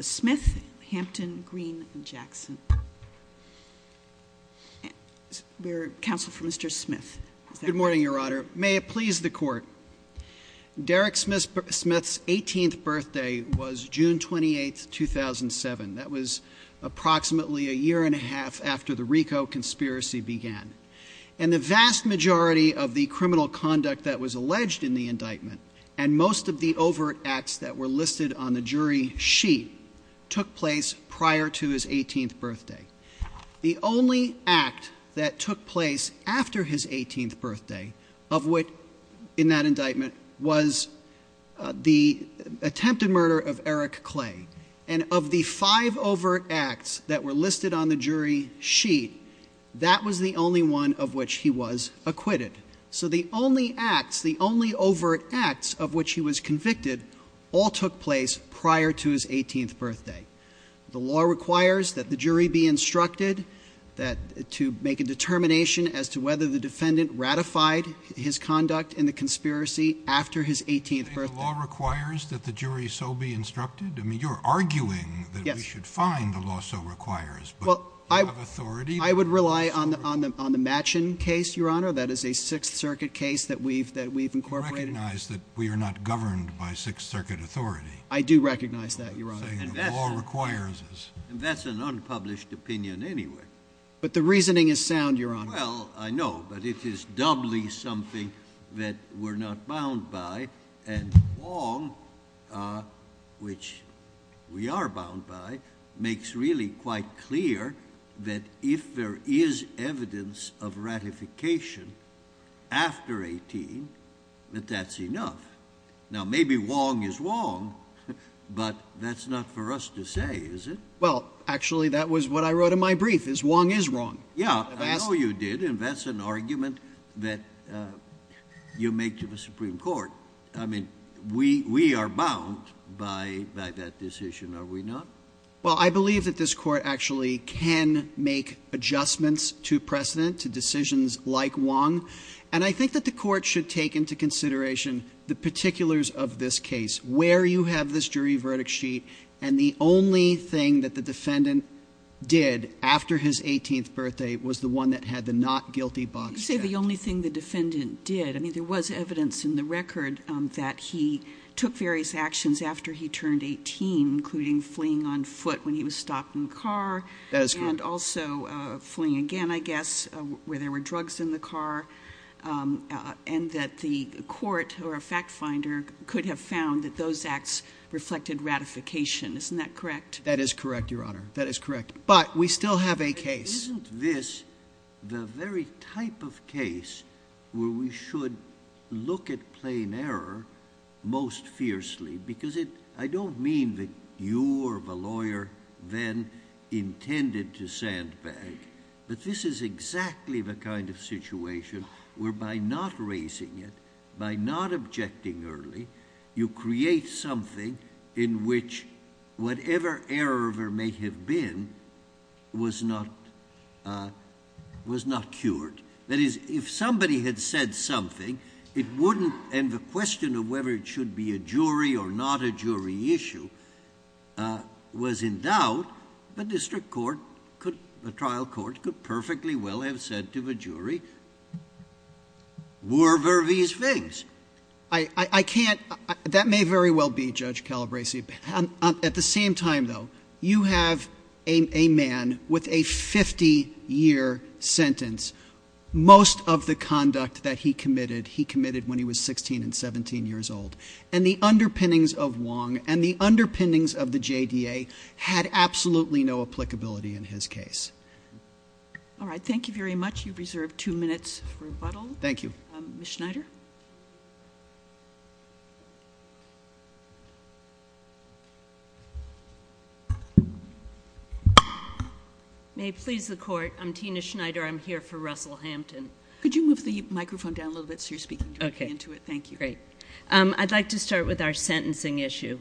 Smith, Hampton, Green, and Jackson. We are counsel for Mr. Smith. Good morning, Your Honor. May it please the Court. Derek Smith's 18th birthday was June 28, 2007. That was approximately a year and a half after the RICO conspiracy began. And the vast majority of the criminal conduct that was alleged in the indictment and most of the overt acts that were listed on the jury sheet took place prior to his 18th birthday. The only act that took place after his 18th birthday, of which, in that indictment, was the attempted murder of Eric Clay. And of the five overt acts that were listed on the jury sheet, that was the only one of which he was acquitted. So the only acts, the only overt acts of which he was convicted, all took place prior to his 18th birthday. The law requires that the jury be instructed to make a determination as to whether the defendant ratified his conduct in the conspiracy after his 18th birthday. You think the law requires that the jury so be instructed? I mean, you're arguing that we should find the law so requires. Well, I would rely on the Machen case, Your Honor. That is a Sixth Circuit case that we've incorporated. You recognize that we are not governed by Sixth Circuit authority. I do recognize that, Your Honor. And that's an unpublished opinion anyway. But the reasoning is sound, Your Honor. Well, I know, but it is doubly something that we're not bound by. And Wong, which we are bound by, makes really quite clear that if there is evidence of ratification after 18, that that's enough. Now, maybe Wong is Wong, but that's not for us to say, is it? Well, actually, that was what I wrote in my brief, is Wong is wrong. Yeah, I know you did, and that's an argument that you make to the Supreme Court. I mean, we are bound by that decision, are we not? Well, I believe that this Court actually can make adjustments to precedent, to decisions like Wong. And I think that the Court should take into consideration the particulars of this case, where you have this jury verdict sheet, and the only thing that the defendant did after his 18th birthday was the one that had the not guilty box checked. You say the only thing the defendant did. I mean, there was evidence in the record that he took various actions after he turned 18, including fleeing on foot when he was stopped in the car. That is correct. And also fleeing again, I guess, where there were drugs in the car. And that the Court or a fact finder could have found that those acts reflected ratification. Isn't that correct? That is correct, Your Honor. That is correct. But we still have a case. Isn't this the very type of case where we should look at plain error most fiercely? Because I don't mean that you or the lawyer then intended to sandbag. But this is exactly the kind of situation where by not raising it, by not objecting early, you create something in which whatever error there may have been was not cured. That is, if somebody had said something, it wouldn't. And the question of whether it should be a jury or not a jury issue was in doubt. But district court could, the trial court, could perfectly well have said to the jury, were there these things? I can't. That may very well be, Judge Calabresi. At the same time, though, you have a man with a 50-year sentence. Most of the conduct that he committed, he committed when he was 16 and 17 years old. And the underpinnings of Wong and the underpinnings of the JDA had absolutely no applicability in his case. All right, thank you very much. You've reserved two minutes for rebuttal. Thank you. Ms. Schneider? May it please the Court. I'm Tina Schneider. I'm here for Russell Hampton. Could you move the microphone down a little bit so you're speaking directly into it? Okay. Thank you. Great. I'd like to start with our sentencing issue.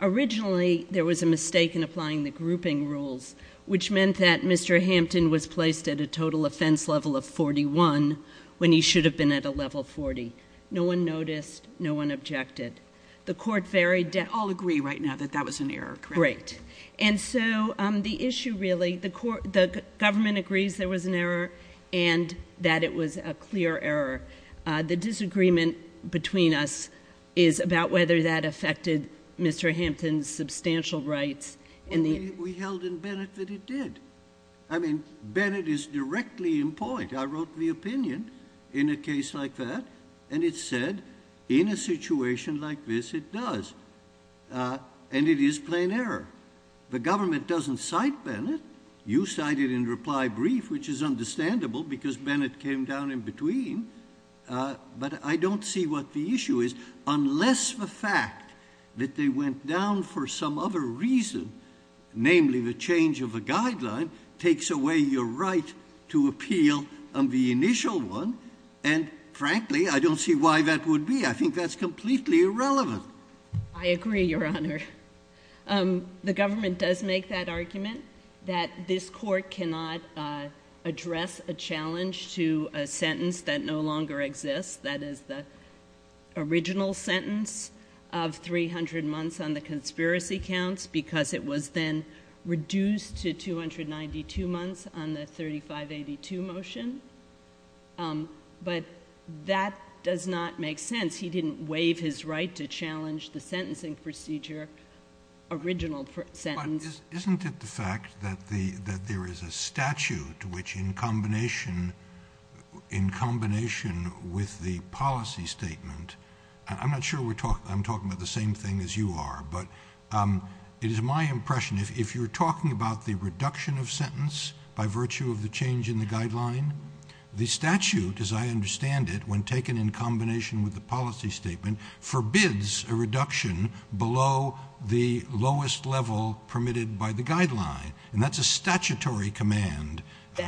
Originally, there was a mistake in applying the grouping rules, which meant that Mr. Hampton was placed at a total offense level of 41 when he should have been at a level 40. No one noticed. No one objected. The Court varied. We all agree right now that that was an error, correct? Great. And so the issue really, the Government agrees there was an error and that it was a clear error. The disagreement between us is about whether that affected Mr. Hampton's substantial rights. We held in Bennett that it did. I mean, Bennett is directly in point. I wrote the opinion in a case like that, and it said in a situation like this, it does. And it is plain error. The Government doesn't cite Bennett. You cited in reply brief, which is understandable because Bennett came down in between. But I don't see what the issue is unless the fact that they went down for some other reason, namely the change of a guideline, takes away your right to appeal on the initial one. And, frankly, I don't see why that would be. I think that's completely irrelevant. I agree, Your Honor. The Government does make that argument, that this Court cannot address a challenge to a sentence that no longer exists, that is the original sentence of 300 months on the conspiracy counts, because it was then reduced to 292 months on the 3582 motion. But that does not make sense. He didn't waive his right to challenge the sentencing procedure, original sentence. Isn't it the fact that there is a statute which, in combination with the policy statement, I'm not sure I'm talking about the same thing as you are, but it is my impression, if you're talking about the reduction of sentence by virtue of the change in the guideline, the statute, as I understand it, when taken in combination with the policy statement, forbids a reduction below the lowest level permitted by the guideline. And that's a statutory command,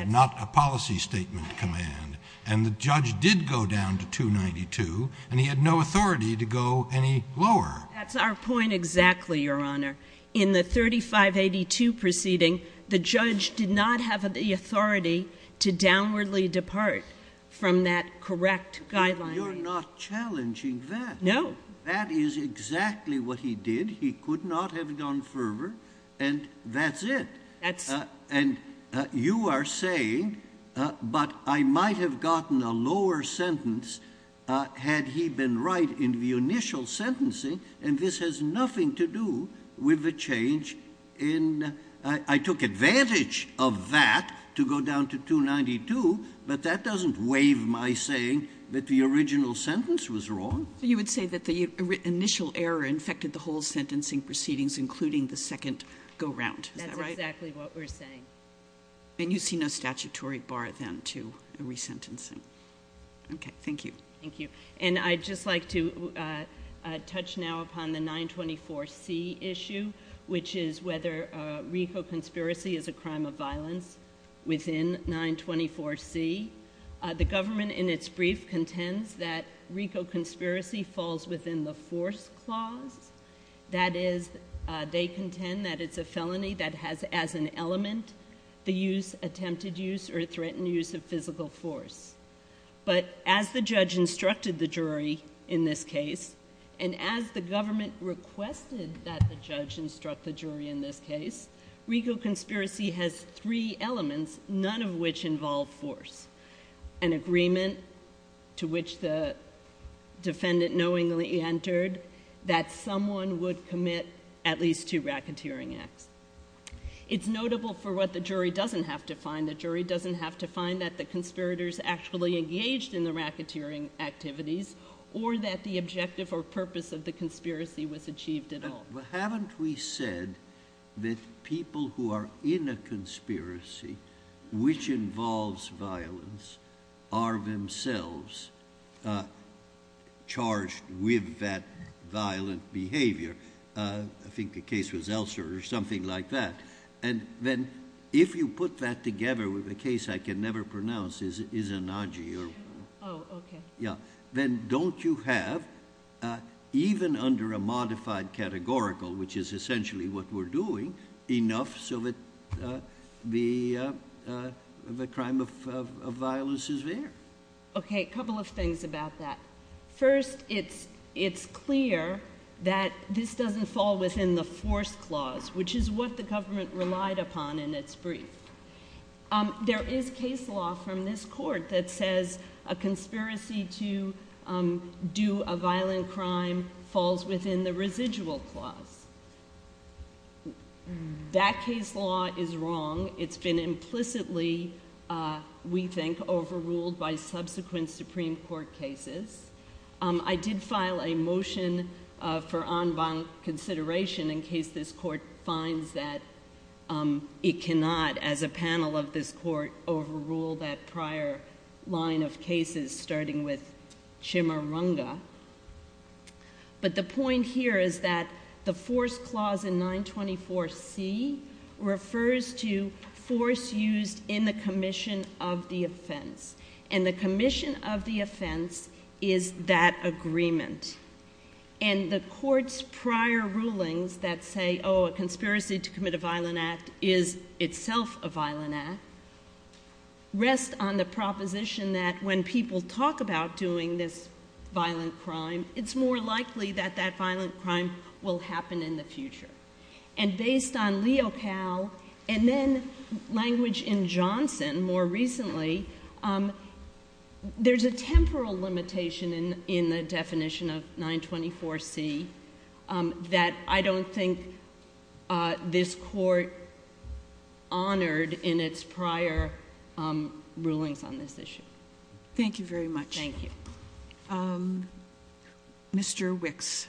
not a policy statement command. And the judge did go down to 292, and he had no authority to go any lower. That's our point exactly, Your Honor. In the 3582 proceeding, the judge did not have the authority to downwardly depart from that correct guideline. But you're not challenging that. No. That is exactly what he did. He could not have gone further, and that's it. That's... And you are saying, but I might have gotten a lower sentence had he been right in the initial sentencing, and this has nothing to do with the change in, I took advantage of that to go down to 292, but that doesn't waive my saying that the original sentence was wrong. So you would say that the initial error infected the whole sentencing proceedings, including the second go-round. Is that right? That's exactly what we're saying. And you see no statutory bar then to resentencing. Okay. Thank you. Thank you. And I'd just like to touch now upon the 924C issue, which is whether RICO conspiracy is a crime of violence within 924C. The government in its brief contends that RICO conspiracy falls within the force clause. That is, they contend that it's a felony that has as an element the use, attempted use, or threatened use of physical force. But as the judge instructed the jury in this case, and as the government requested that the judge instruct the jury in this case, RICO conspiracy has three elements, none of which involve force. An agreement to which the defendant knowingly entered that someone would commit at least two racketeering acts. It's notable for what the jury doesn't have to find. That the conspirators actually engaged in the racketeering activities, or that the objective or purpose of the conspiracy was achieved at all. But haven't we said that people who are in a conspiracy, which involves violence, are themselves charged with that violent behavior? I think the case was Elser or something like that. If you put that together with a case I can never pronounce, Izanagi, then don't you have, even under a modified categorical, which is essentially what we're doing, enough so that the crime of violence is there? A couple of things about that. First, it's clear that this doesn't fall within the force clause, which is what the government relied upon in its brief. There is case law from this court that says a conspiracy to do a violent crime falls within the residual clause. That case law is wrong. It's been implicitly, we think, overruled by subsequent Supreme Court cases. I did file a motion for en banc consideration in case this court finds that it cannot, as a panel of this court, overrule that prior line of cases, starting with Chimuranga. But the point here is that the force clause in 924C refers to force used in the commission of the offense. And the commission of the offense is that agreement. And the court's prior rulings that say, oh, a conspiracy to commit a violent act is itself a violent act, rest on the proposition that when people talk about doing this violent crime, it's more likely that that violent crime will happen in the future. And based on Leo Powell and then language in Johnson more recently, there's a temporal limitation in the definition of 924C that I don't think this court honored in its prior rulings on this issue. Thank you very much. Thank you. Mr. Wicks.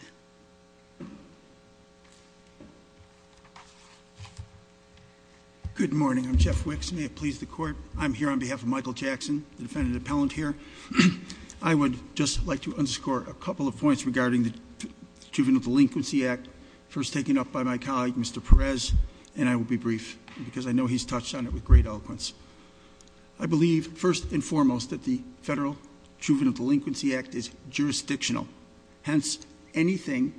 Good morning. I'm Jeff Wicks. May it please the court. I'm here on behalf of Michael Jackson, the defendant appellant here. I would just like to underscore a couple of points regarding the Juvenile Delinquency Act, first taken up by my colleague, Mr. Perez, and I will be brief, because I know he's touched on it with great eloquence. I believe, first and foremost, that the Federal Juvenile Delinquency Act is jurisdictional. Hence, anything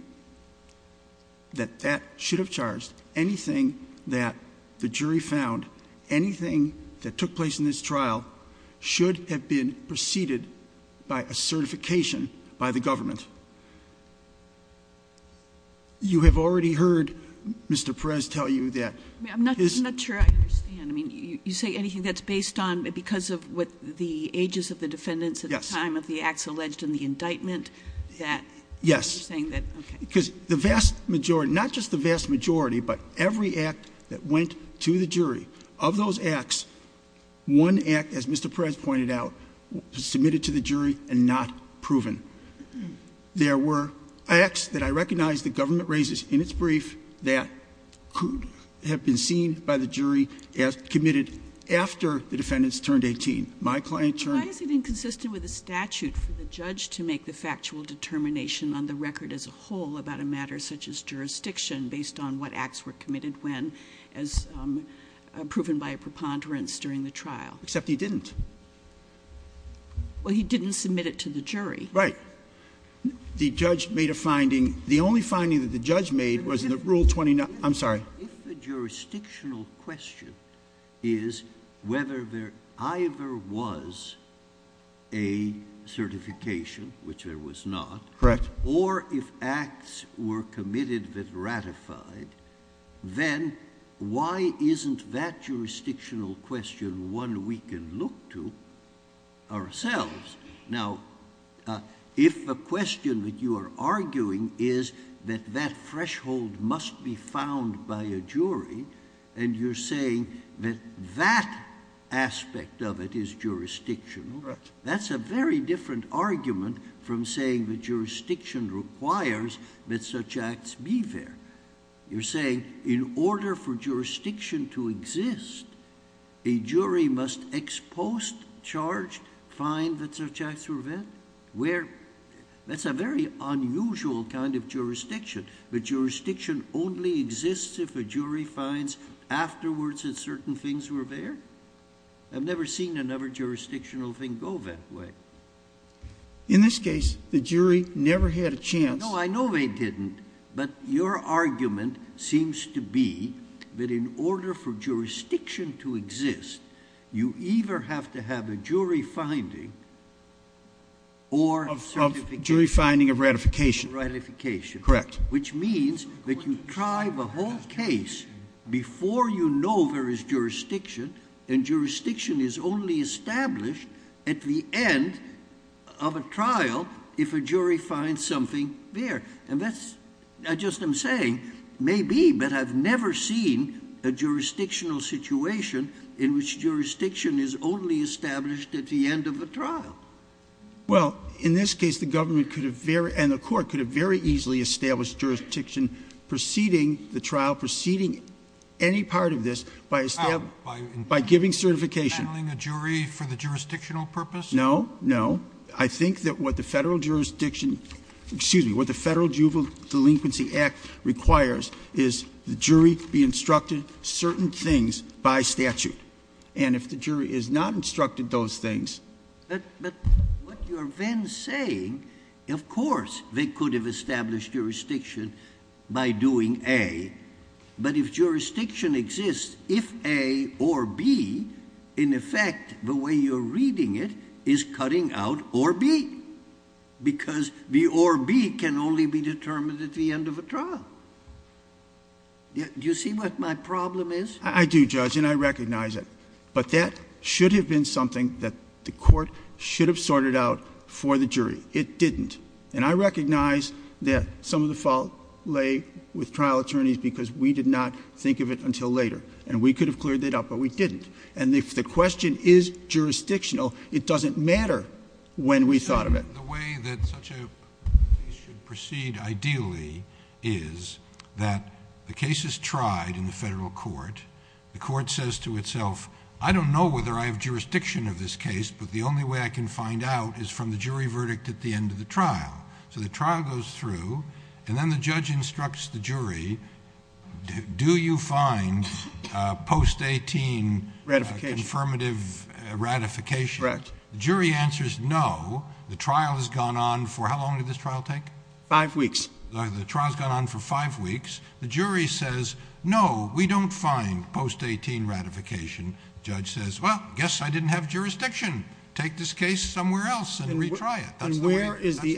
that that should have charged, anything that the jury found, anything that took place in this trial should have been preceded by a certification by the government. You have already heard Mr. Perez tell you that- I'm not sure I understand. I mean, you say anything that's based on because of what the ages of the defendants- Yes. At the time of the acts alleged in the indictment that- Yes. You're saying that, okay. Because the vast majority, not just the vast majority, but every act that went to the jury, of those acts, one act, as Mr. Perez pointed out, was submitted to the jury and not proven. There were acts that I recognize the government raises in its brief that could have been seen by the jury as committed after the defendants turned 18. My client turned- Why is it inconsistent with the statute for the judge to make the factual determination on the record as a whole about a matter such as jurisdiction based on what acts were committed when as proven by a preponderance during the trial? Except he didn't. Well, he didn't submit it to the jury. Right. The judge made a finding. The only finding that the judge made was in the Rule 29- I'm sorry. If the jurisdictional question is whether there either was a certification, which there was not- Correct. Or if acts were committed that ratified, then why isn't that jurisdictional question one we can look to ourselves? Now, if the question that you are arguing is that that threshold must be found by a jury and you're saying that that aspect of it is jurisdictional- Correct. That's a very different argument from saying that jurisdiction requires that such acts be there. You're saying in order for jurisdiction to exist, a jury must expose charge, find that such acts were met? That's a very unusual kind of jurisdiction. But jurisdiction only exists if a jury finds afterwards that certain things were there? I've never seen another jurisdictional thing go that way. In this case, the jury never had a chance- Your argument seems to be that in order for jurisdiction to exist, you either have to have a jury finding or- A jury finding of ratification. Ratification. Correct. Which means that you try the whole case before you know there is jurisdiction, and jurisdiction is only established at the end of a trial if a jury finds something there. And that's, I just am saying, maybe, but I've never seen a jurisdictional situation in which jurisdiction is only established at the end of a trial. Well, in this case, the government could have very, and the court could have very easily established jurisdiction preceding the trial, preceding any part of this by establishing- By- By giving certification. Handling a jury for the jurisdictional purpose? No, no. I think that what the Federal Jurisdiction, excuse me, what the Federal Juvenile Delinquency Act requires is the jury be instructed certain things by statute. And if the jury is not instructed those things- But what you're then saying, of course, they could have established jurisdiction by doing A. But if jurisdiction exists, if A or B, in effect, the way you're reading it is cutting out or B, because the or B can only be determined at the end of a trial. Do you see what my problem is? I do, Judge, and I recognize it. But that should have been something that the court should have sorted out for the jury. It didn't. And I recognize that some of the fault lay with trial attorneys because we did not think of it until later. And we could have cleared it up, but we didn't. And if the question is jurisdictional, it doesn't matter when we thought of it. The way that such a case should proceed ideally is that the case is tried in the federal court. The court says to itself, I don't know whether I have jurisdiction of this case, but the only way I can find out is from the jury verdict at the end of the trial. So the trial goes through, and then the judge instructs the jury, do you find post-18 confirmative ratification? Correct. The jury answers no. The trial has gone on for how long did this trial take? Five weeks. The trial's gone on for five weeks. The jury says, no, we don't find post-18 ratification. The judge says, well, guess I didn't have jurisdiction. Take this case somewhere else and retry it. That's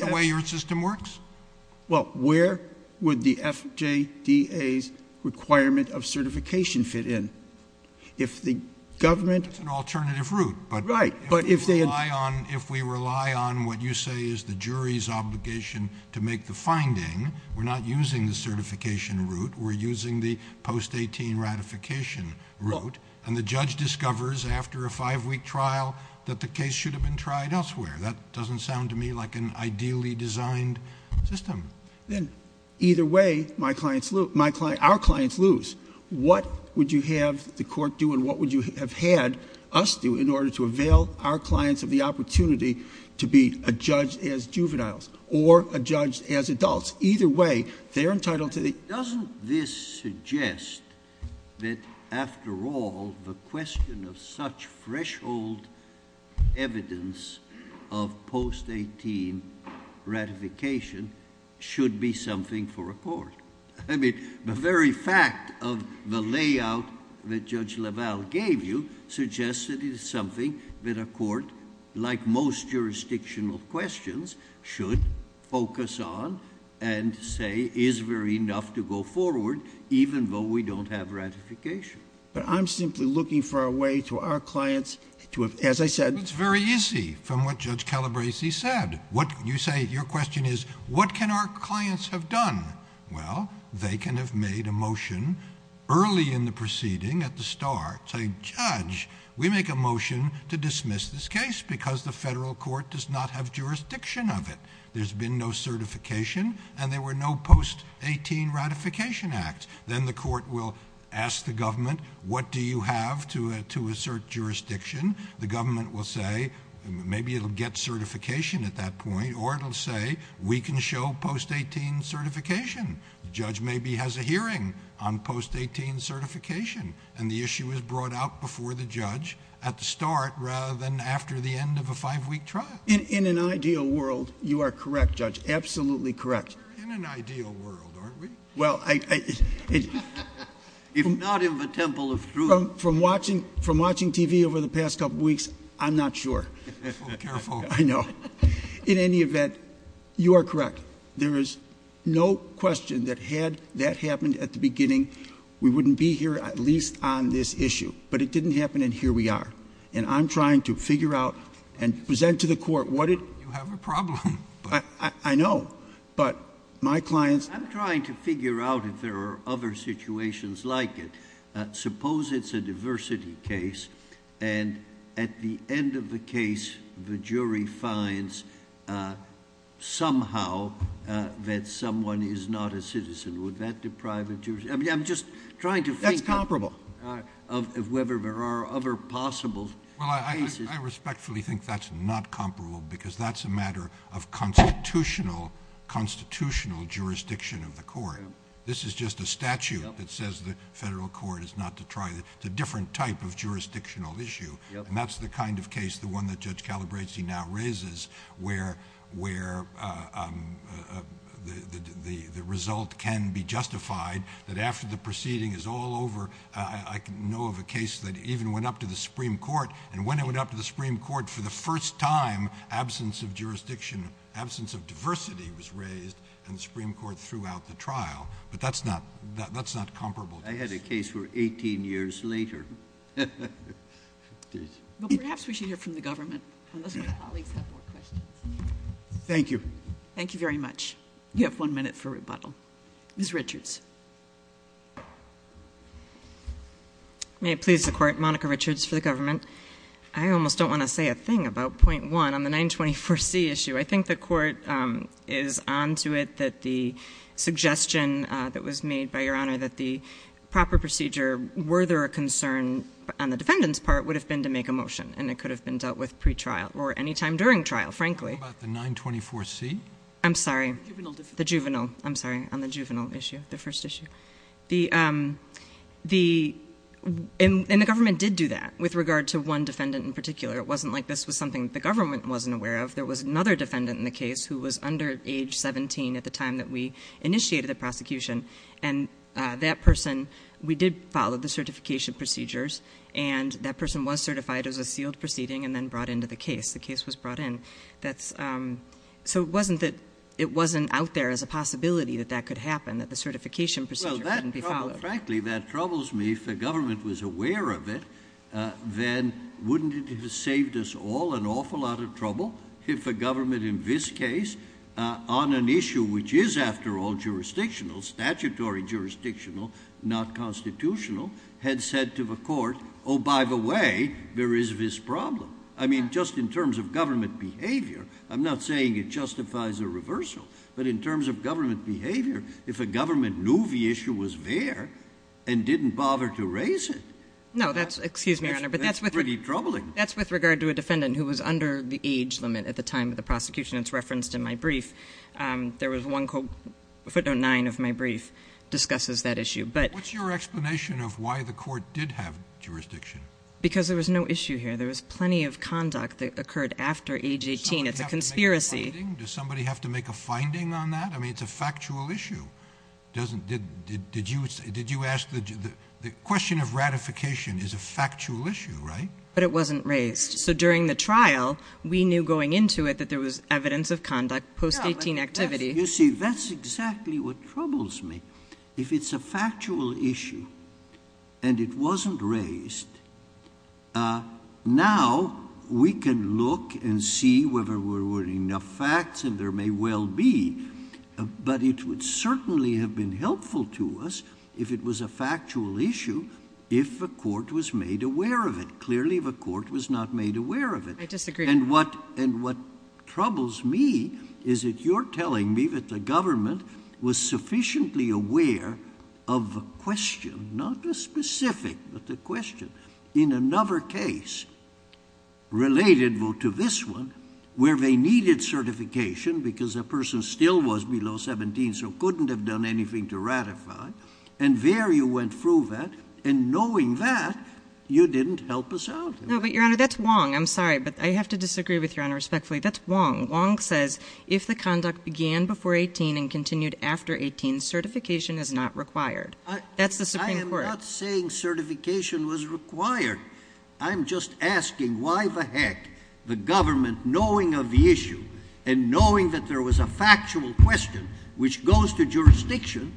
the way your system works? Well, where would the FJDA's requirement of certification fit in? If the government... That's an alternative route. Right, but if they... If we rely on what you say is the jury's obligation to make the finding, we're not using the certification route. We're using the post-18 ratification route, and the judge discovers after a five-week trial that the case should have been tried elsewhere. That doesn't sound to me like an ideally designed system. Then, either way, our clients lose. What would you have the court do and what would you have had us do in order to avail our clients of the opportunity to be a judge as juveniles or a judge as adults? Either way, they're entitled to the...... of post-18 ratification should be something for a court. I mean, the very fact of the layout that Judge LaValle gave you suggests that it is something that a court, like most jurisdictional questions, should focus on and say is there enough to go forward, even though we don't have ratification. But I'm simply looking for a way to our clients to... Your question is what can our clients have done? Well, they can have made a motion early in the proceeding at the start, saying, Judge, we make a motion to dismiss this case because the federal court does not have jurisdiction of it. There's been no certification and there were no post-18 ratification acts. Then the court will ask the government, what do you have to assert jurisdiction? The government will say, maybe it'll get certification at that point or it'll say, we can show post-18 certification. The judge maybe has a hearing on post-18 certification and the issue is brought out before the judge at the start rather than after the end of a five-week trial. In an ideal world, you are correct, Judge, absolutely correct. We're in an ideal world, aren't we? If not in the temple of truth... From watching TV over the past couple of weeks, I'm not sure. Oh, careful. I know. In any event, you are correct. There is no question that had that happened at the beginning, we wouldn't be here at least on this issue. But it didn't happen and here we are. And I'm trying to figure out and present to the court what it... You have a problem. I know, but my clients... I'm trying to figure out if there are other situations like it. Suppose it's a diversity case and at the end of the case, the jury finds somehow that someone is not a citizen. Would that deprive the jury? I'm just trying to think... That's comparable.... of whether there are other possible cases. I respectfully think that's not comparable because that's a matter of constitutional jurisdiction of the court. This is just a statute that says the federal court is not to try. It's a different type of jurisdictional issue. And that's the kind of case, the one that Judge Calabresi now raises, where the result can be justified that after the proceeding is all over. I know of a case that even went up to the Supreme Court. And when it went up to the Supreme Court for the first time, absence of jurisdiction, absence of diversity was raised and the Supreme Court threw out the trial. But that's not comparable to this. I had a case where 18 years later... Perhaps we should hear from the government, unless my colleagues have more questions. Thank you. Thank you very much. You have one minute for rebuttal. Ms. Richards. May it please the Court, Monica Richards for the government. I almost don't want to say a thing about point one on the 924C issue. I think the Court is on to it that the suggestion that was made by Your Honor, that the proper procedure, were there a concern on the defendant's part, would have been to make a motion. And it could have been dealt with pretrial or any time during trial, frankly. What about the 924C? I'm sorry. The juvenile. The juvenile. I'm sorry, on the juvenile issue, the first issue. And the government did do that with regard to one defendant in particular. It wasn't like this was something the government wasn't aware of. There was another defendant in the case who was under age 17 at the time that we initiated the prosecution. And that person, we did follow the certification procedures, and that person was certified as a sealed proceeding and then brought into the case. The case was brought in. So it wasn't that it wasn't out there as a possibility that that could happen, that the certification procedure couldn't be followed. Frankly, that troubles me. If the government was aware of it, then wouldn't it have saved us all an awful lot of trouble if the government in this case, on an issue which is, after all, jurisdictional, statutory jurisdictional, not constitutional, had said to the court, oh, by the way, there is this problem. I mean, just in terms of government behavior, I'm not saying it justifies a reversal, but in terms of government behavior, if a government knew the issue was there and didn't bother to raise it, that's pretty troubling. No, that's with regard to a defendant who was under the age limit at the time of the prosecution. It's referenced in my brief. There was one quote, footnote 9 of my brief discusses that issue. What's your explanation of why the court did have jurisdiction? Because there was no issue here. It's a conspiracy. Does somebody have to make a finding on that? I mean, it's a factual issue. Did you ask the question of ratification is a factual issue, right? But it wasn't raised. So during the trial, we knew going into it that there was evidence of conduct post-18 activity. You see, that's exactly what troubles me. If it's a factual issue and it wasn't raised, now we can look and see whether there were enough facts and there may well be. But it would certainly have been helpful to us if it was a factual issue, if a court was made aware of it. Clearly, the court was not made aware of it. I disagree. And what troubles me is that you're telling me that the government was sufficiently aware of a question, not a specific, but a question. In another case, related to this one, where they needed certification because a person still was below 17, so couldn't have done anything to ratify. And there you went through that. And knowing that, you didn't help us out. No, but, Your Honor, that's Wong. I'm sorry, but I have to disagree with Your Honor respectfully. That's Wong. Wong says, if the conduct began before 18 and continued after 18, certification is not required. That's the Supreme Court. I am not saying certification was required. I'm just asking why the heck the government, knowing of the issue and knowing that there was a factual question which goes to jurisdiction,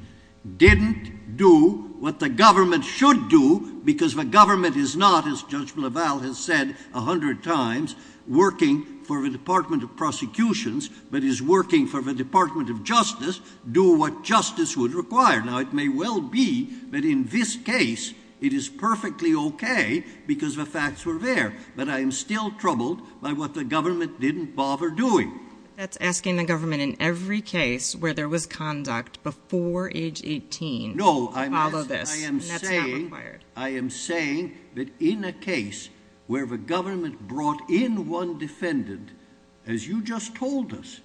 didn't do what the government should do because the government is not, as Judge LaValle has said a hundred times, working for the Department of Prosecutions, but is working for the Department of Justice, do what justice would require. Now, it may well be that in this case, it is perfectly okay because the facts were there. But I am still troubled by what the government didn't bother doing. That's asking the government, in every case where there was conduct before age 18, to follow this. And that's not required. I am saying that in a case where the government brought in one defendant, as you just told us,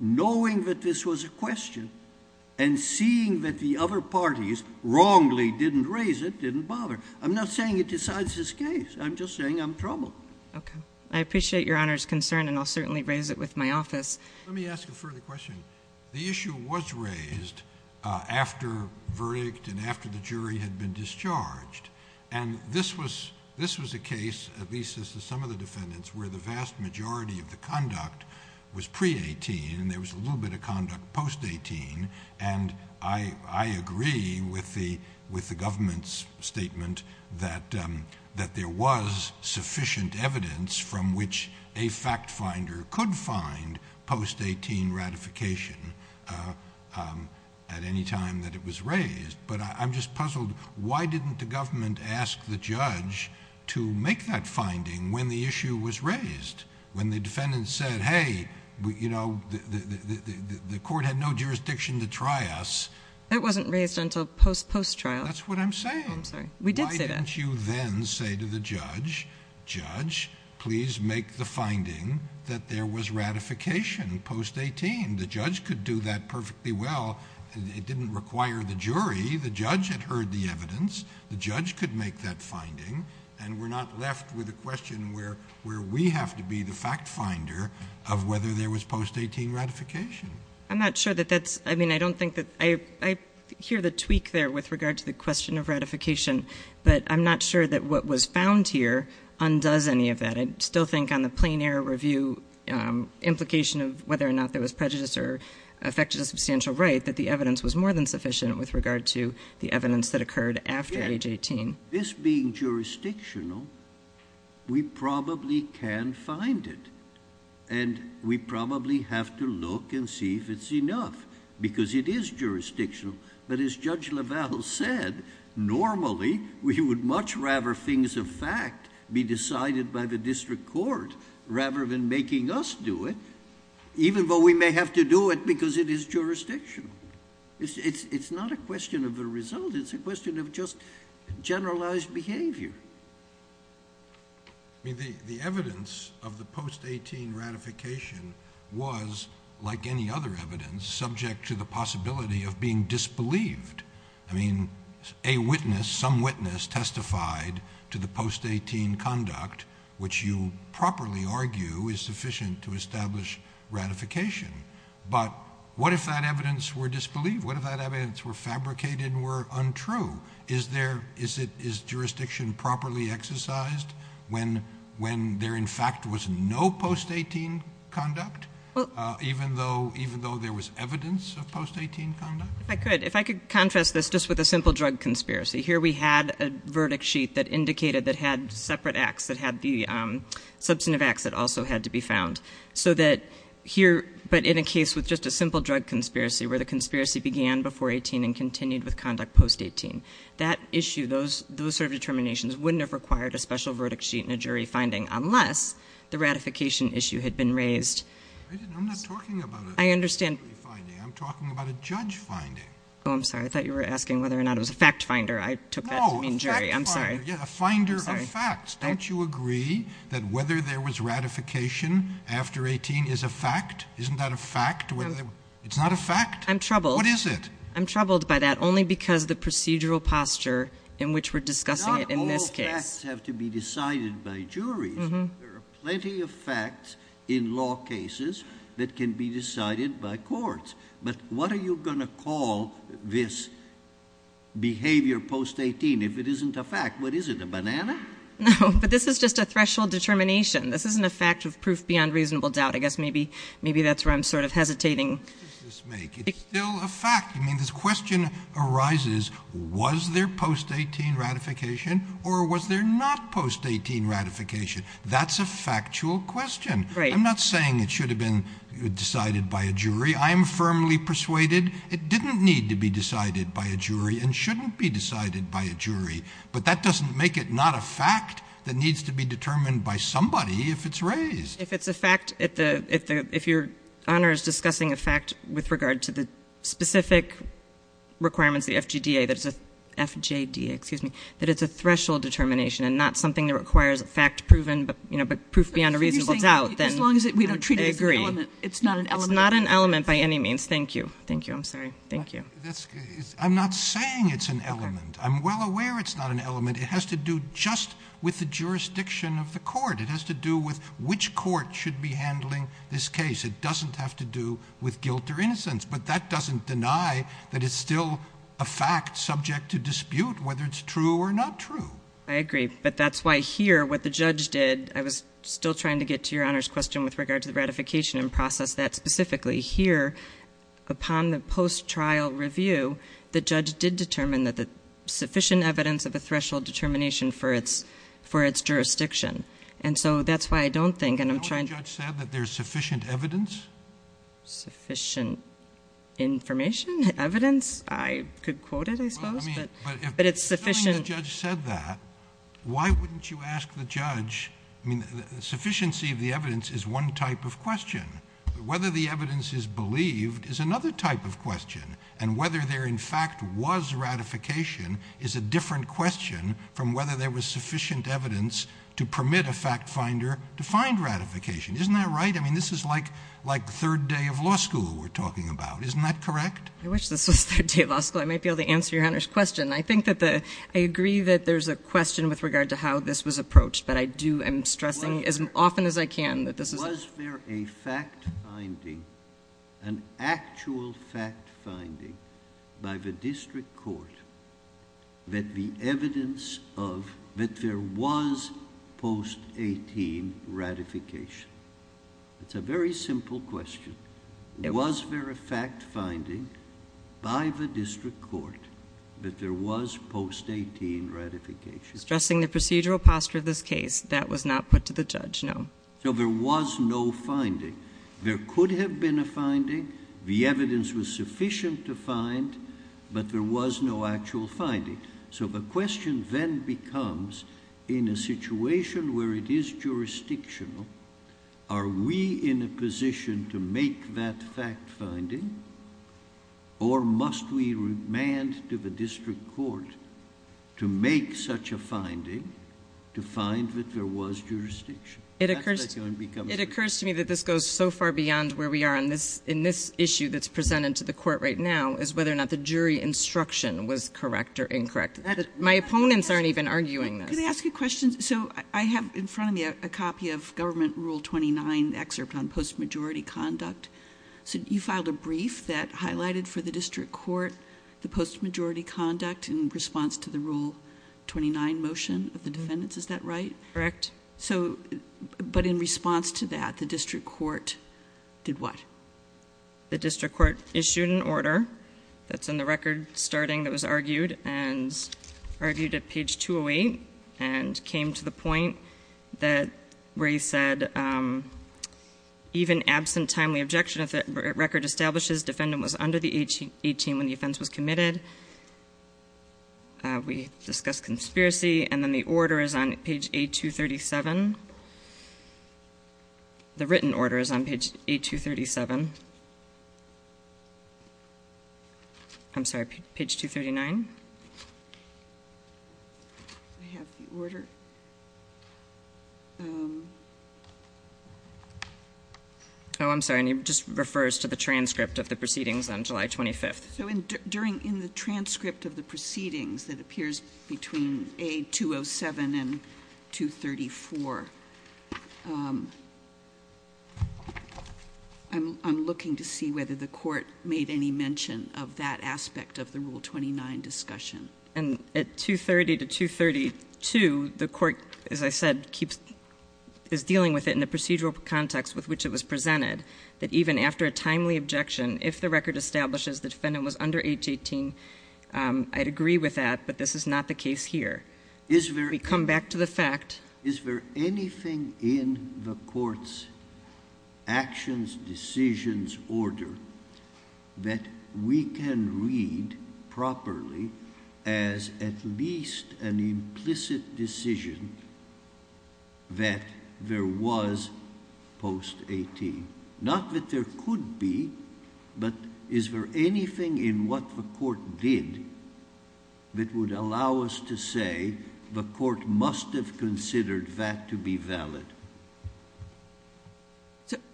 knowing that this was a question and seeing that the other parties wrongly didn't raise it, didn't bother. I'm not saying it decides this case. I'm just saying I'm troubled. Okay. I appreciate Your Honor's concern, and I'll certainly raise it with my office. Let me ask a further question. The issue was raised after verdict and after the jury had been discharged, and this was a case, at least as to some of the defendants, where the vast majority of the conduct was pre-18 and there was a little bit of conduct post-18. And I agree with the government's statement that there was sufficient evidence from which a fact finder could find post-18 ratification at any time that it was raised. But I'm just puzzled. Why didn't the government ask the judge to make that finding when the issue was raised? When the defendant said, hey, you know, the court had no jurisdiction to try us. It wasn't raised until post-trial. That's what I'm saying. I'm sorry. We did say that. Why didn't you then say to the judge, judge, please make the finding that there was ratification post-18? The judge could do that perfectly well. It didn't require the jury. The judge had heard the evidence. The judge could make that finding. And we're not left with a question where we have to be the fact finder of whether there was post-18 ratification. I'm not sure that that's, I mean, I don't think that, I hear the tweak there with regard to the question of ratification. But I'm not sure that what was found here undoes any of that. I still think on the plain error review implication of whether or not there was prejudice or affected a substantial right, that the evidence was more than sufficient with regard to the evidence that occurred after age 18. This being jurisdictional, we probably can find it. And we probably have to look and see if it's enough, because it is jurisdictional. But as Judge LaValle said, normally we would much rather things of fact be decided by the district court rather than making us do it, even though we may have to do it because it is jurisdictional. It's not a question of the result. It's a question of just generalized behavior. I mean, the evidence of the post-18 ratification was, like any other evidence, subject to the possibility of being disbelieved. I mean, a witness, some witness testified to the post-18 conduct, which you properly argue is sufficient to establish ratification. But what if that evidence were disbelieved? What if that evidence were fabricated and were untrue? Is jurisdiction properly exercised when there, in fact, was no post-18 conduct, even though there was evidence of post-18 conduct? I could. If I could contrast this just with a simple drug conspiracy. Here we had a verdict sheet that indicated that had separate acts that had the substantive acts that also had to be found. So that here, but in a case with just a simple drug conspiracy where the conspiracy began before 18 and continued with conduct post-18, that issue, those sort of determinations wouldn't have required a special verdict sheet and a jury finding unless the ratification issue had been raised. I'm not talking about a jury finding. I'm talking about a judge finding. Oh, I'm sorry. I thought you were asking whether or not it was a fact finder. I took that to mean jury. I'm sorry. No, a fact finder. Yeah, a finder of facts. Don't you agree that whether there was ratification after 18 is a fact? Isn't that a fact? It's not a fact? I'm troubled. What is it? I'm troubled by that only because the procedural posture in which we're discussing it in this case. Not all facts have to be decided by juries. There are plenty of facts in law cases that can be decided by courts. But what are you going to call this behavior post-18 if it isn't a fact? What is it, a banana? No, but this is just a threshold determination. This isn't a fact of proof beyond reasonable doubt. I guess maybe that's where I'm sort of hesitating. What does this make? It's still a fact. I mean, this question arises, was there post-18 ratification or was there not post-18 ratification? That's a factual question. I'm not saying it should have been decided by a jury. I am firmly persuaded it didn't need to be decided by a jury and shouldn't be decided by a jury. But that doesn't make it not a fact that needs to be determined by somebody if it's raised. If it's a fact, if your Honor is discussing a fact with regard to the specific requirements, the FJDA, that it's a threshold determination and not something that requires a fact-proven but proof beyond reasonable doubt, then I agree. As long as we don't treat it as an element. It's not an element. It's not an element by any means. Thank you. Thank you. I'm sorry. Thank you. I'm not saying it's an element. I'm well aware it's not an element. It has to do just with the jurisdiction of the court. It has to do with which court should be handling this case. It doesn't have to do with guilt or innocence. But that doesn't deny that it's still a fact subject to dispute whether it's true or not true. I agree. But that's why here what the judge did, I was still trying to get to your Honor's question with regard to the ratification and process that specifically. Here, upon the post-trial review, the judge did determine that the sufficient evidence of a threshold determination for its jurisdiction. And so that's why I don't think, and I'm trying to. You know what the judge said? That there's sufficient evidence? Sufficient information? Evidence? I could quote it, I suppose. But it's sufficient. If the judge said that, why wouldn't you ask the judge? I mean, the sufficiency of the evidence is one type of question. Whether the evidence is believed is another type of question. And whether there, in fact, was ratification is a different question from whether there was sufficient evidence to permit a fact finder to find ratification. Isn't that right? I mean, this is like third day of law school we're talking about. Isn't that correct? I wish this was third day of law school. I might be able to answer your Honor's question. I think that the, I agree that there's a question with regard to how this was approached. But I do, I'm stressing as often as I can that this is. Was there a fact finding, an actual fact finding by the district court that the evidence of, that there was post-18 ratification? It's a very simple question. Was there a fact finding by the district court that there was post-18 ratification? I'm stressing the procedural posture of this case. That was not put to the judge, no. So there was no finding. There could have been a finding. The evidence was sufficient to find, but there was no actual finding. So the question then becomes, in a situation where it is jurisdictional, are we in a position to make that fact finding? Or must we remand to the district court to make such a finding to find that there was jurisdiction? It occurs to me that this goes so far beyond where we are in this issue that's presented to the court right now, is whether or not the jury instruction was correct or incorrect. My opponents aren't even arguing this. Can I ask you a question? So I have in front of me a copy of Government Rule 29, the excerpt on post-majority conduct. You filed a brief that highlighted for the district court the post-majority conduct in response to the Rule 29 motion of the defendants. Is that right? Correct. But in response to that, the district court did what? The district court issued an order that's in the record starting that was argued and argued at page 208 and came to the point where he said, even absent timely objection if the record establishes defendant was under the age 18 when the offense was committed, we discuss conspiracy and then the order is on page 8237. The written order is on page 8237. I'm sorry, page 239. I have the order. Oh, I'm sorry. And it just refers to the transcript of the proceedings on July 25th. So in the transcript of the proceedings that appears between A207 and 234, I'm looking to see whether the court made any mention of that aspect of the Rule 29 discussion. And at 230 to 232, the court, as I said, is dealing with it in the procedural context with which it was presented, that even after a timely objection, if the record establishes the defendant was under age 18, I'd agree with that, but this is not the case here. We come back to the fact. Is there anything in the court's actions, decisions order that we can read properly as at least an implicit decision that there was post-18? Not that there could be, but is there anything in what the court did that would allow us to say the court must have considered that to be valid?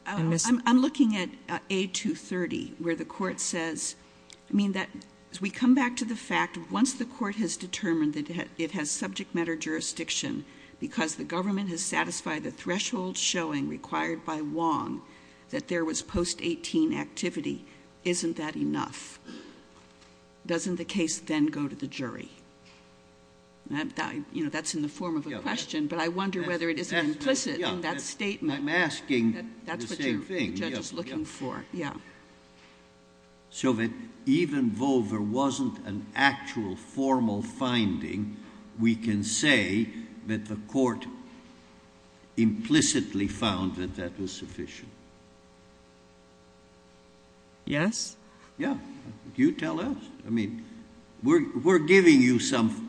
I'm looking at A230, where the court says, I mean, as we come back to the fact, once the court has determined that it has subject matter jurisdiction, because the government has satisfied the threshold showing required by Wong that there was post-18 activity, isn't that enough? Doesn't the case then go to the jury? You know, that's in the form of a question, but I wonder whether it is implicit in that statement. I'm asking the same thing. That's what the judge is looking for, yeah. So that even though there wasn't an actual formal finding, we can say that the court implicitly found that that was sufficient? Yes. Yeah. You tell us. I mean, we're giving you some,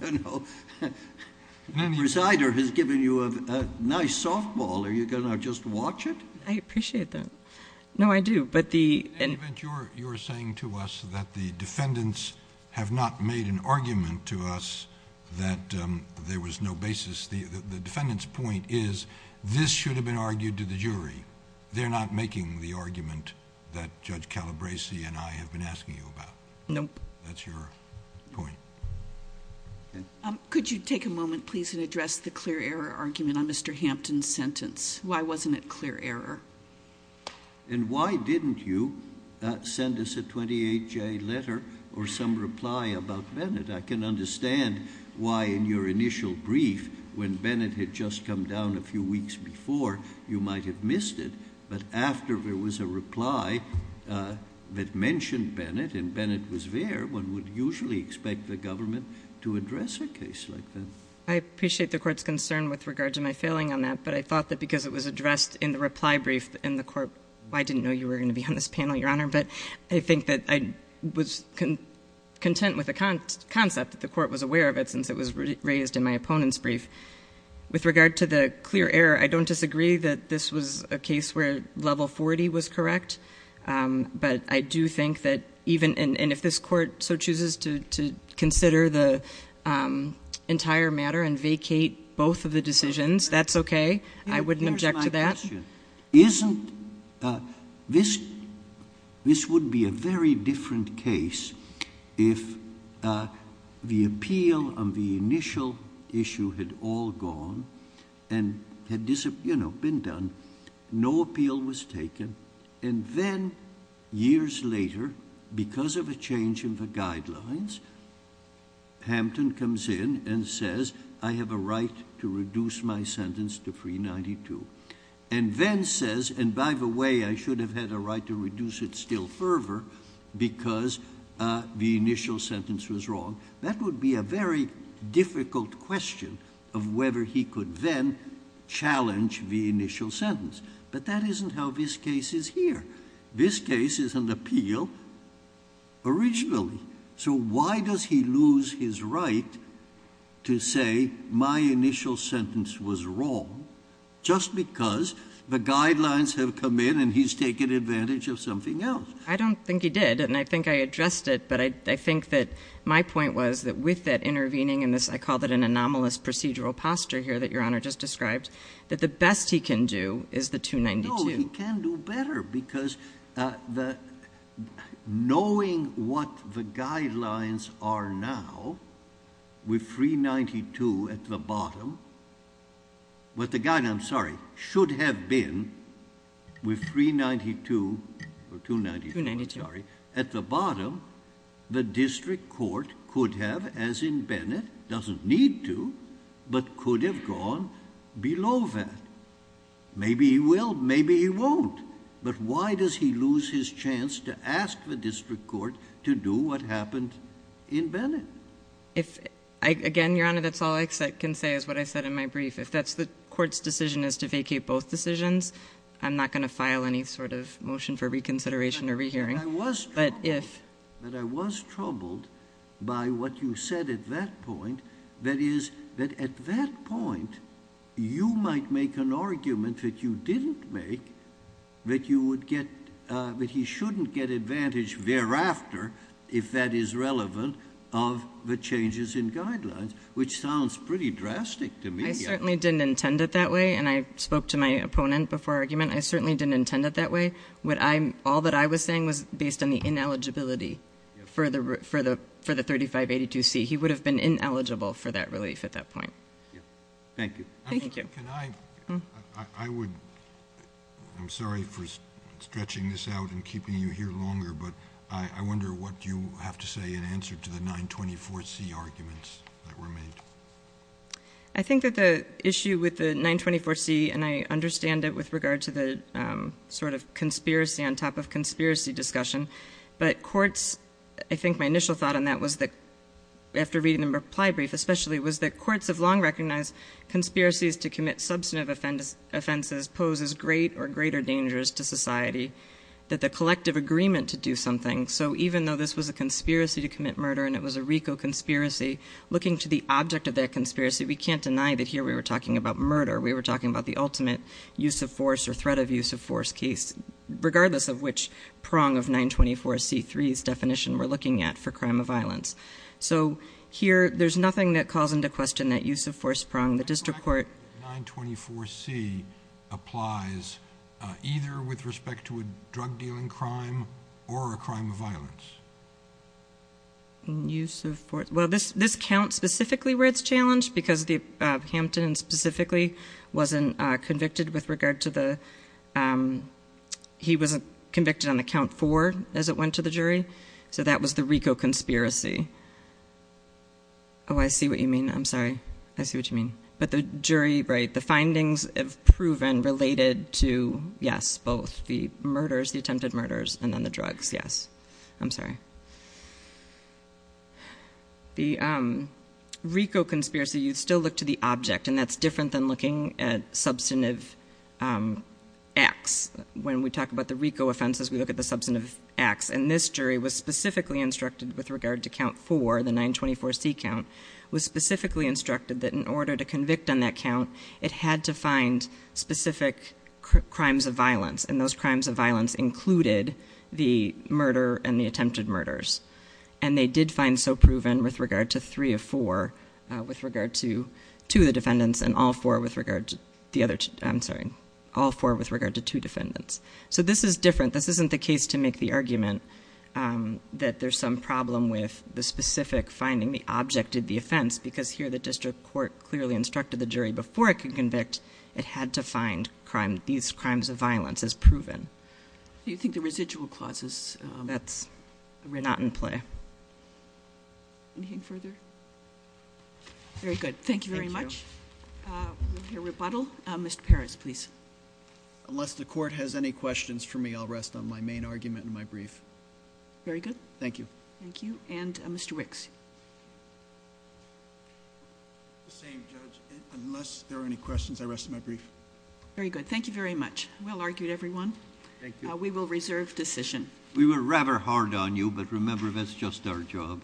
you know, the presider has given you a nice softball. Are you going to just watch it? I appreciate that. No, I do, but the... In any event, you're saying to us that the defendants have not made an argument to us that there was no basis. The defendant's point is this should have been argued to the jury. They're not making the argument that Judge Calabresi and I have been asking you about. Nope. That's your point. Could you take a moment, please, and address the clear error argument on Mr. Hampton's sentence? Why wasn't it clear error? And why didn't you send us a 28-J letter or some reply about Bennett? I can understand why in your initial brief, when Bennett had just come down a few weeks before, you might have missed it. But after there was a reply that mentioned Bennett and Bennett was there, one would usually expect the government to address a case like that. I appreciate the court's concern with regard to my failing on that, but I thought that because it was addressed in the reply brief in the court, I didn't know you were going to be on this panel, Your Honor. But I think that I was content with the concept that the court was aware of it since it was raised in my opponent's brief. With regard to the clear error, I don't disagree that this was a case where level 40 was correct. But I do think that even if this court so chooses to consider the entire matter and vacate both of the decisions, that's okay. I wouldn't object to that. This would be a very different case if the appeal on the initial issue had all gone and had been done. No appeal was taken, and then years later, because of a change in the guidelines, Hampton comes in and says, I have a right to reduce my sentence to 392. And then says, and by the way, I should have had a right to reduce it still further because the initial sentence was wrong. That would be a very difficult question of whether he could then challenge the initial sentence. But that isn't how this case is here. This case is an appeal originally. So why does he lose his right to say my initial sentence was wrong just because the guidelines have come in and he's taken advantage of something else? I don't think he did. And I think I addressed it. But I think that my point was that with that intervening in this, I call that an anomalous procedural posture here that Your Honor just described, that the best he can do is the 292. No, he can do better because knowing what the guidelines are now with 392 at the bottom, what the guide, I'm sorry, should have been with 392 or 292. Sorry. At the bottom, the district court could have, as in Bennett, doesn't need to, but could have gone below that. Maybe he will. Maybe he won't. But why does he lose his chance to ask the district court to do what happened in Bennett? If, again, Your Honor, that's all I can say is what I said in my brief. If that's the court's decision is to vacate both decisions, I'm not going to file any sort of motion for reconsideration or rehearing. But if- But I was troubled by what you said at that point. That is, that at that point, you might make an argument that you didn't make that you would get, that he shouldn't get advantage thereafter if that is relevant of the changes in guidelines, which sounds pretty drastic to me. I certainly didn't intend it that way. And I spoke to my opponent before argument. I certainly didn't intend it that way. All that I was saying was based on the ineligibility for the 3582C. He would have been ineligible for that relief at that point. Thank you. Thank you. I'm sorry for stretching this out and keeping you here longer, but I wonder what you have to say in answer to the 924C arguments that were made. I think that the issue with the 924C, and I understand it with regard to the sort of conspiracy on top of conspiracy discussion. But courts, I think my initial thought on that was that, after reading the reply brief especially, was that courts have long recognized conspiracies to commit substantive offenses pose as great or greater dangers to society, that the collective agreement to do something. So even though this was a conspiracy to commit murder and it was a RICO conspiracy, looking to the object of that conspiracy, we can't deny that here we were talking about murder. We were talking about the ultimate use of force or threat of use of force case, regardless of which prong of 924C3's definition we're looking at for crime of violence. So here, there's nothing that calls into question that use of force prong. The 924C applies either with respect to a drug dealing crime or a crime of violence. Use of force. Well, this counts specifically where it's challenged because Hampton specifically wasn't convicted with regard to the, he wasn't convicted on the count four as it went to the jury. So that was the RICO conspiracy. Oh, I see what you mean. I'm sorry. I see what you mean. But the jury, right, the findings have proven related to, yes, both the murders, the attempted murders, and then the drugs, yes. I'm sorry. The RICO conspiracy, you'd still look to the object, and that's different than looking at substantive acts. When we talk about the RICO offenses, we look at the substantive acts. And this jury was specifically instructed with regard to count four, the 924C count, was specifically instructed that in order to convict on that count, it had to find specific crimes of violence. And those crimes of violence included the murder and the attempted murders. And they did find so proven with regard to three of four, with regard to two of the defendants, and all four with regard to two defendants. So this is different. This isn't the case to make the argument that there's some problem with the specific finding, the object of the offense, because here the district court clearly instructed the jury before it could convict it had to find these crimes of violence as proven. Do you think the residual clauses- That's not in play. Anything further? Very good. Thank you very much. We'll hear rebuttal. Mr. Perez, please. Unless the court has any questions for me, I'll rest on my main argument and my brief. Very good. Thank you. Thank you. And Mr. Wicks. The same, Judge. Unless there are any questions, I rest my brief. Very good. Thank you very much. Well argued, everyone. Thank you. We will reserve decision. We were rather hard on you, but remember that's just our job.